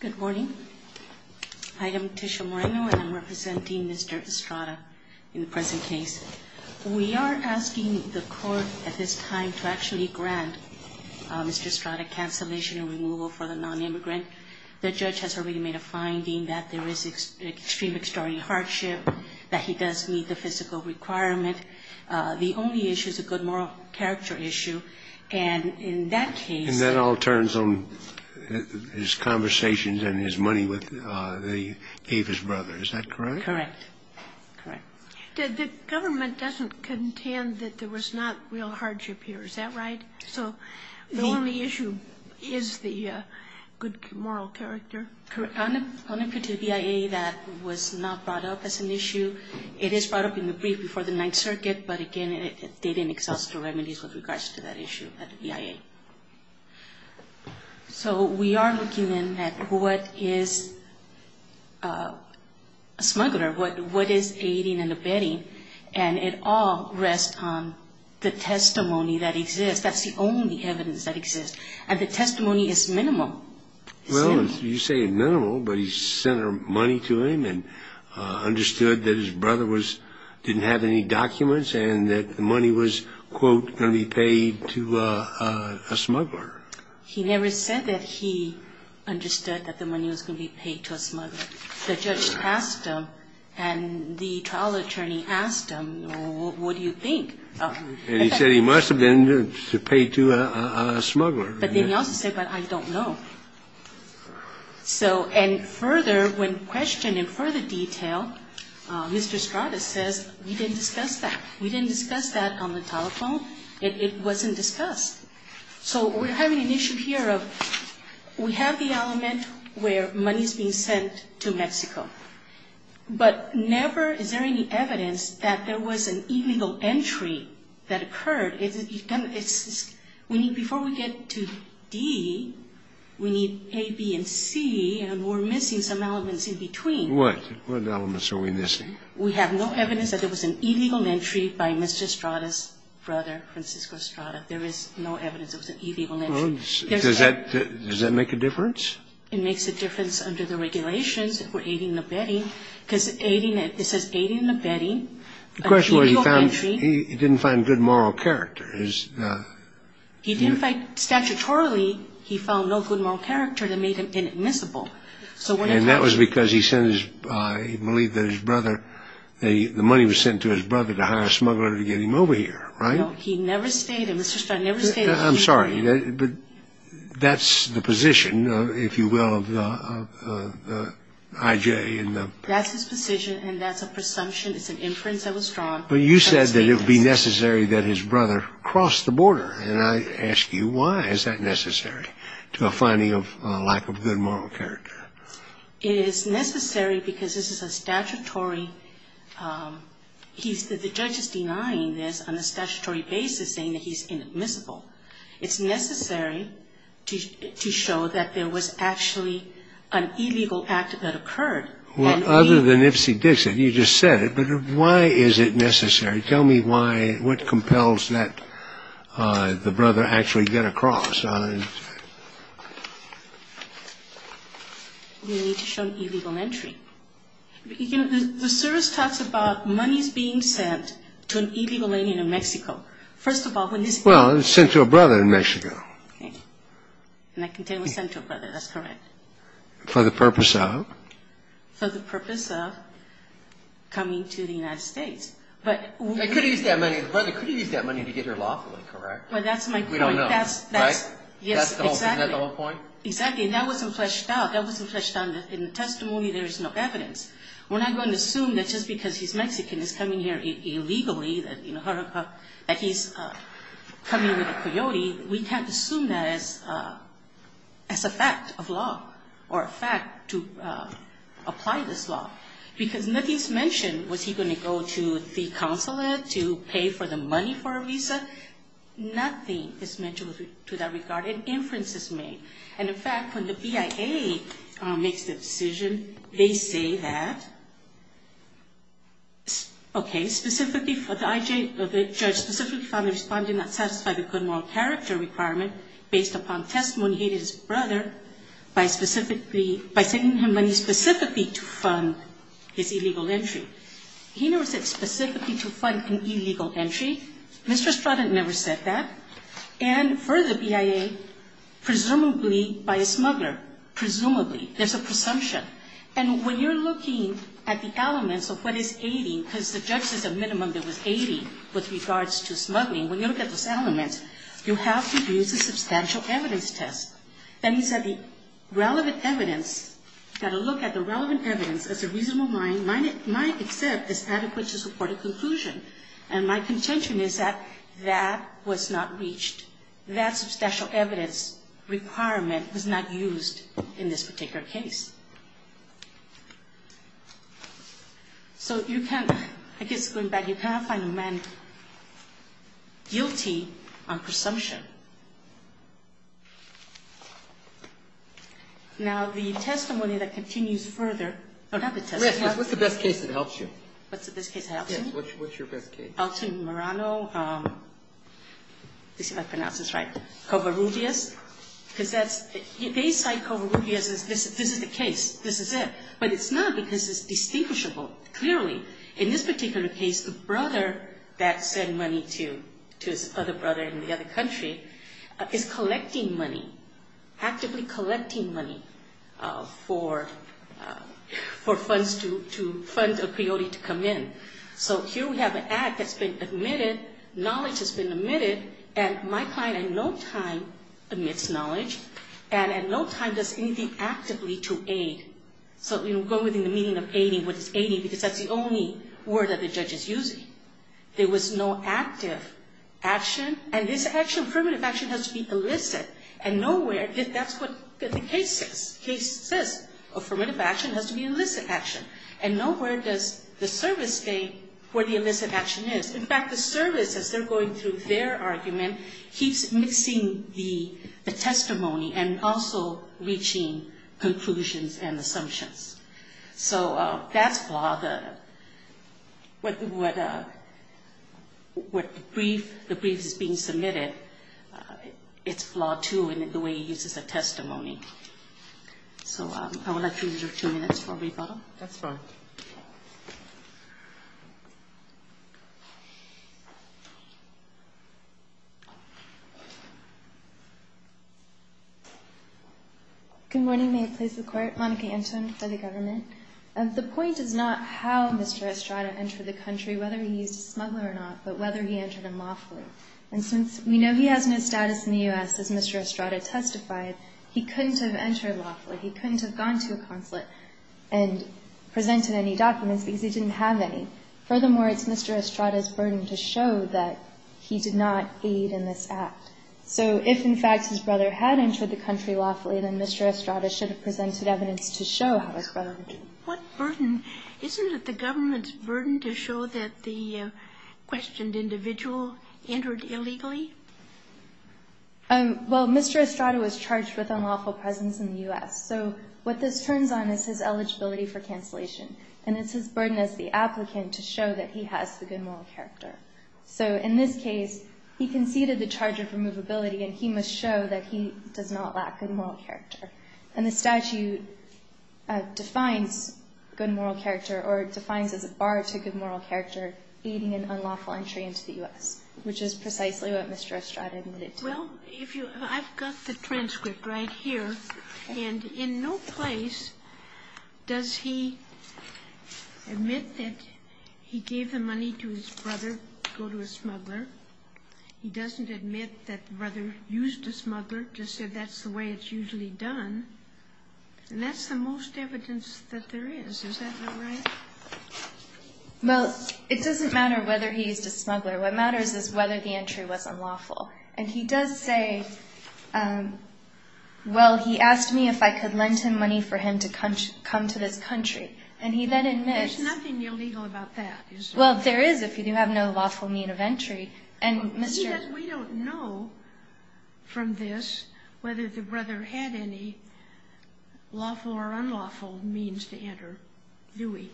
Good morning. I am Tisha Moreno and I'm representing Mr. Estrada in the present case. We are asking the court at this time to actually grant Mr. Estrada cancellation and removal for the non-immigrant. The judge has already made a finding that there is extreme extraordinary hardship, that he does meet the physical requirement. The only issue is a good moral character issue and in that case... And that all turns on his conversations and his money with the Davis brothers, is that correct? Correct. Correct. The government doesn't contend that there was not real hardship here, is that right? So the only issue is the good moral character? Correct. On a particular BIA that was not brought up as an issue, it is brought up in the brief before the Ninth Circuit, but again, they didn't exhaust the remedies with regards to that issue at the BIA. So we are looking at what is a smuggler, what is aiding and abetting, and it all rests on the testimony that exists. That's the only evidence that exists. And the testimony is minimal. Well, you say minimal, but he sent money to him and understood that his brother didn't have any documents and that the money was, quote, going to be paid to a smuggler. He never said that he understood that the money was going to be paid to a smuggler. The judge asked him and the trial attorney asked him, what do you think? And he said he must have been to pay to a smuggler. But then he also said, but I don't know. So and further, when questioned in further detail, Mr. Stratus says, we didn't discuss that. We didn't discuss that on the telephone. It wasn't discussed. So we're having an issue here of we have the element where money is being sent to Mexico, but never is there any evidence that there was an illegal entry that occurred. We need, before we get to D, we need A, B, and C, and we're missing some elements in between. What? What elements are we missing? We have no evidence that there was an illegal entry by Mr. Stratus' brother, Francisco Stratus. There is no evidence there was an illegal entry. Does that make a difference? It makes a difference under the regulations for aiding and abetting, because it says aiding and abetting. The question was he didn't find good moral character. He didn't find, statutorily, he found no good moral character that made him inadmissible. And that was because he believed that his brother, the money was sent to his brother to hire a smuggler to get him over here, right? No, he never stayed, Mr. Stratus never stayed. I'm sorry, but that's the position, if you will, of the I.J. That's his position and that's a presumption, it's an inference that was drawn. But you said that it would be necessary that his brother cross the border, and I ask you why is that necessary to a finding of lack of good moral character? It is necessary because this is a statutory, the judge is denying this on a statutory basis, saying that he's inadmissible. It's necessary to show that there was actually an illegal act that occurred. Well, other than Ipsy Dixit, you just said it, but why is it necessary? Tell me why, what compels that the brother actually get across. We need to show an illegal entry. The service talks about monies being sent to an illegal alien in Mexico. First of all, when his brother was sent to a brother in Mexico. Okay. And that container was sent to a brother, that's correct. For the purpose of? For the purpose of coming to the United States. But we don't know. But the brother could have used that money to get here lawfully, correct? Well, that's my point. We don't know, right? Yes, exactly. Isn't that the whole point? Exactly, and that wasn't fleshed out. That wasn't fleshed out. In the testimony, there is no evidence. We're not going to assume that just because he's Mexican, he's coming here illegally, that he's coming with a coyote, we can't assume that as a fact of law or a fact to apply this law. Because nothing is mentioned, was he going to go to the consulate to pay for the money for a visa? Nothing is mentioned to that regard. An inference is made. And, in fact, when the BIA makes the decision, they say that, okay, the judge specifically found the Respondent not satisfy the good moral character requirement based upon testimony he did his brother by specifically, by sending him money specifically to fund his illegal entry. He never said specifically to fund an illegal entry. Mr. Stratton never said that. And for the BIA, presumably by a smuggler, presumably. There's a presumption. And when you're looking at the elements of what is aiding, because the judge says a minimum that was aiding with regards to smuggling, when you look at those elements, you have to use a substantial evidence test. That means that the relevant evidence, that a look at the relevant evidence as a reasonable mind might accept is adequate to support a conclusion. And my contention is that that was not reached. That substantial evidence requirement was not used in this particular case. So you can't, I guess going back, you cannot find a man guilty on presumption. Now, the testimony that continues further, not the testimony. What's the best case that helps you? What's the best case that helps me? Yes. What's your best case? Elton Morano. Let's see if I pronounce this right. Covarrubias. Because that's, they cite Covarrubias as this is the case. This is it. But it's not because it's distinguishable. Clearly, in this particular case, the brother that sent money to his other brother in the other country is collecting money, actively collecting money for funds to fund a peyote to come in. So here we have an act that's been admitted. Knowledge has been admitted. And my client in no time admits knowledge. And in no time does anything actively to aid. So, you know, going within the meaning of aiding. What is aiding? Because that's the only word that the judge is using. There was no active action. And this action, affirmative action, has to be illicit. And nowhere, that's what the case says. The case says affirmative action has to be illicit action. And nowhere does the service state where the illicit action is. In fact, the service, as they're going through their argument, keeps mixing the testimony and also reaching conclusions and assumptions. So that's flawed. The brief that's being submitted, it's flawed, too, in the way it uses the testimony. So I would like to use your two minutes for a brief item. That's fine. Good morning. May it please the Court. Monica Anton for the government. The point is not how Mr. Estrada entered the country, whether he used a smuggler or not, but whether he entered unlawfully. And since we know he has no status in the U.S., as Mr. Estrada testified, he couldn't have entered lawfully. He couldn't have gone to a consulate and presented any documents because he didn't have any. Furthermore, it's Mr. Estrada's burden to show that he did not aid in this act. So if, in fact, his brother had entered the country lawfully, then Mr. Estrada should have presented evidence to show how his brother entered. What burden? Isn't it the government's burden to show that the questioned individual entered illegally? Well, Mr. Estrada was charged with unlawful presence in the U.S. So what this turns on is his eligibility for cancellation, and it's his burden as the applicant to show that he has the good moral character. So in this case, he conceded the charge of removability, and he must show that he does not lack good moral character. And the statute defines good moral character, or defines as a bar to good moral character aiding in unlawful entry into the U.S., which is precisely what Mr. Estrada admitted to. Well, I've got the transcript right here. And in no place does he admit that he gave the money to his brother to go to a smuggler. He doesn't admit that the brother used a smuggler, just said that's the way it's usually done. And that's the most evidence that there is. Is that not right? Well, it doesn't matter whether he used a smuggler. What matters is whether the entry was unlawful. And he does say, well, he asked me if I could lend him money for him to come to this country. And he then admits. There's nothing illegal about that, is there? Well, there is if you have no lawful mean of entry. And Mr. Estrada. We don't know from this whether the brother had any lawful or unlawful means to enter, do we?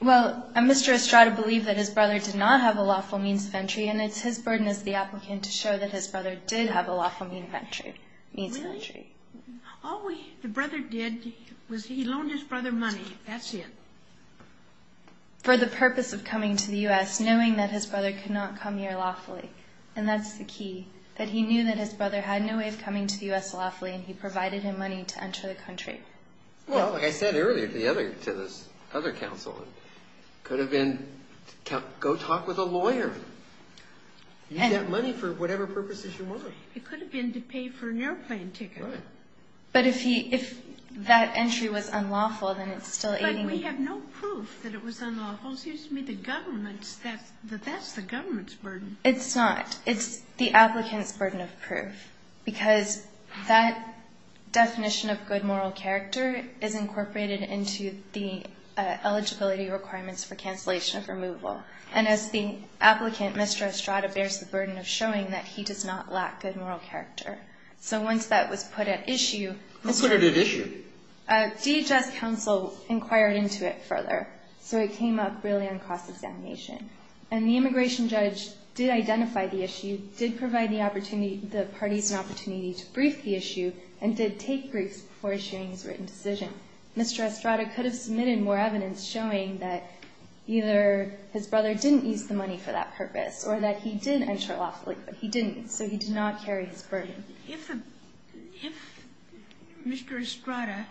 Well, Mr. Estrada believed that his brother did not have a lawful means of entry. And it's his burden as the applicant to show that his brother did have a lawful means of entry. Really? All the brother did was he loaned his brother money. That's it. For the purpose of coming to the U.S., knowing that his brother could not come here lawfully. And that's the key, that he knew that his brother had no way of coming to the U.S. lawfully. And he provided him money to enter the country. Well, like I said earlier to this other counsel, it could have been go talk with a lawyer. You get money for whatever purposes you want. It could have been to pay for an airplane ticket. But if that entry was unlawful, then it's still aiding the... But we have no proof that it was unlawful. Excuse me, the government, that's the government's burden. It's not. It's the applicant's burden of proof. Because that definition of good moral character is incorporated into the eligibility requirements for cancellation of removal. And as the applicant, Mr. Estrada, bears the burden of showing that he does not lack good moral character. So once that was put at issue... What's put at issue? DHS counsel inquired into it further. So it came up really on cross-examination. And the immigration judge did identify the issue, did provide the opportunity, the parties an opportunity to brief the issue, and did take briefs before issuing his written decision. Mr. Estrada could have submitted more evidence showing that either his brother didn't use the money for that purpose, or that he did enter lawfully, but he didn't. So he did not carry his burden. If Mr. Estrada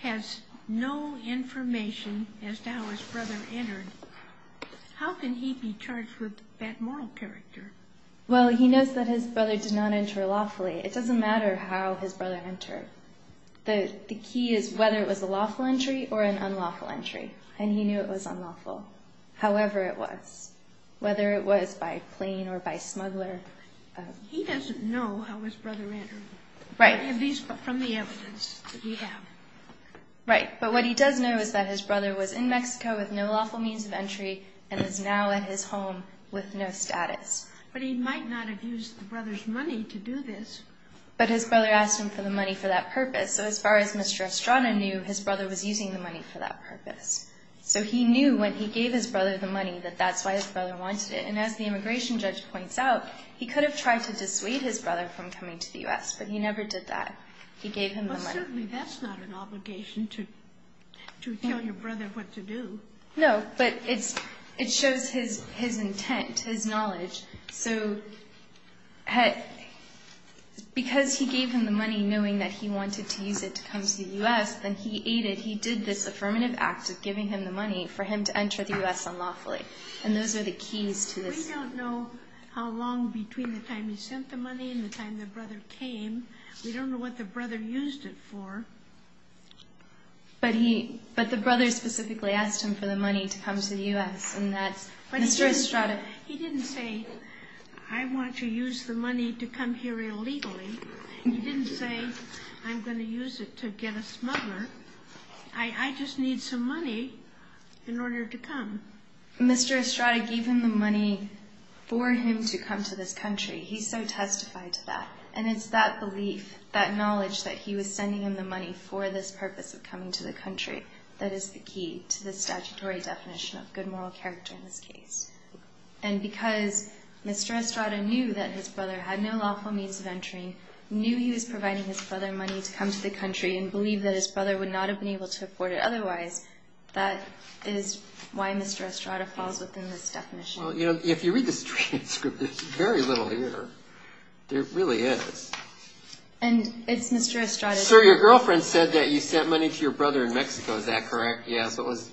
has no information as to how his brother entered, how can he be charged with bad moral character? Well, he knows that his brother did not enter lawfully. It doesn't matter how his brother entered. The key is whether it was a lawful entry or an unlawful entry. And he knew it was unlawful, however it was, whether it was by plane or by smuggler. He doesn't know how his brother entered. Right. From the evidence that we have. Right. But what he does know is that his brother was in Mexico with no lawful means of entry and is now at his home with no status. But he might not have used the brother's money to do this. But his brother asked him for the money for that purpose. So as far as Mr. Estrada knew, his brother was using the money for that purpose. So he knew when he gave his brother the money that that's why his brother wanted it. And as the immigration judge points out, he could have tried to dissuade his brother from coming to the U.S., but he never did that. He gave him the money. Certainly that's not an obligation to tell your brother what to do. No, but it shows his intent, his knowledge. So because he gave him the money knowing that he wanted to use it to come to the U.S., then he aided. He did this affirmative act of giving him the money for him to enter the U.S. unlawfully. And those are the keys to this. We don't know how long between the time he sent the money and the time the brother came. We don't know what the brother used it for. But the brother specifically asked him for the money to come to the U.S. He didn't say, I want to use the money to come here illegally. He didn't say, I'm going to use it to get a smuggler. I just need some money in order to come. Mr. Estrada gave him the money for him to come to this country. He so testified to that. And it's that belief, that knowledge that he was sending him the money for this purpose of coming to the country that is the key to the statutory definition of good moral character in this case. And because Mr. Estrada knew that his brother had no lawful means of entering, knew he was providing his brother money to come to the country, and believed that his brother would not have been able to afford it otherwise, Well, you know, if you read the transcript, there's very little here. There really is. And it's Mr. Estrada. Sir, your girlfriend said that you sent money to your brother in Mexico. Is that correct? Yes, it was.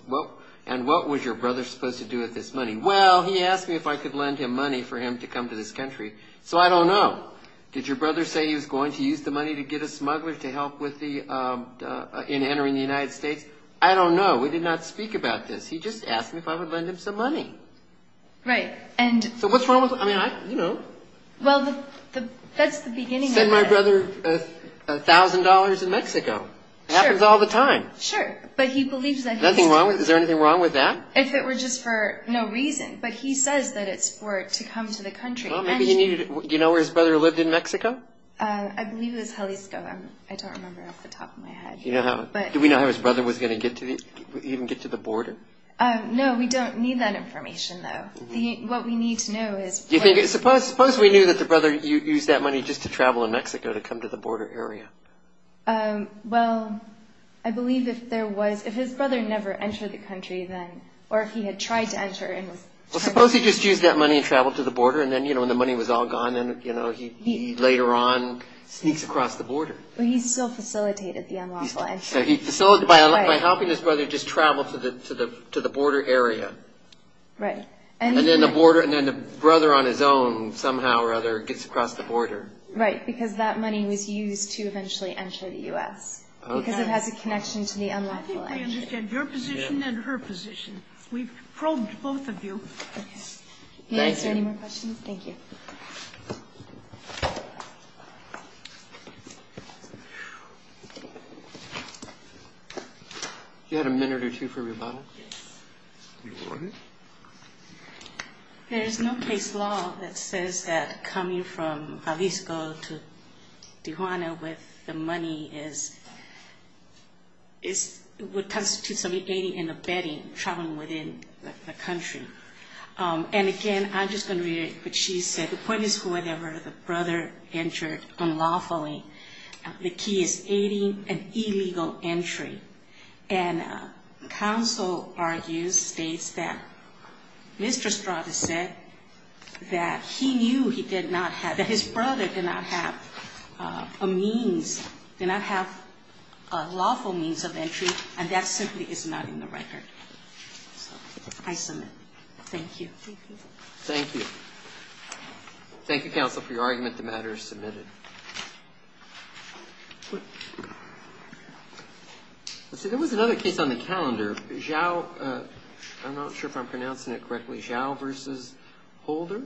And what was your brother supposed to do with this money? Well, he asked me if I could lend him money for him to come to this country. So I don't know. Did your brother say he was going to use the money to get a smuggler to help in entering the United States? I don't know. We did not speak about this. He just asked me if I would lend him some money. Right. So what's wrong with, I mean, you know. Well, that's the beginning of it. Send my brother $1,000 in Mexico. Sure. It happens all the time. Sure. But he believes that he needs to. Is there anything wrong with that? If it were just for no reason. But he says that it's for to come to the country. Well, maybe he needed, do you know where his brother lived in Mexico? I believe it was Jalisco. I don't remember off the top of my head. Do we know how his brother was going to even get to the border? No, we don't need that information, though. What we need to know is. Suppose we knew that the brother used that money just to travel in Mexico to come to the border area. Well, I believe if there was, if his brother never entered the country then, or if he had tried to enter. Well, suppose he just used that money and traveled to the border and then, you know, when the money was all gone, Well, he still facilitated the unlawful entry. So he facilitated, by helping his brother just travel to the border area. Right. And then the border, and then the brother on his own somehow or other gets across the border. Right, because that money was used to eventually enter the U.S. Because it has a connection to the unlawful entry. I think we understand your position and her position. We've probed both of you. May I answer any more questions? Thank you. You had a minute or two for rebuttal. Yes. You were on it. There is no case law that says that coming from Jalisco to Tijuana with the money is, would constitute somebody aiding and abetting traveling within the country. And, again, I'm just going to reiterate what she said. The point is whoever the brother entered unlawfully, the key is aiding an illegal entry. And counsel argues, states that Mr. Estrada said that he knew he did not have, that his brother did not have a means, did not have a lawful means of entry, and that simply is not in the record. So I submit. Thank you. Thank you. Thank you, counsel, for your argument. The matter is submitted. Let's see. There was another case on the calendar. Zhao, I'm not sure if I'm pronouncing it correctly. Zhao versus Holder.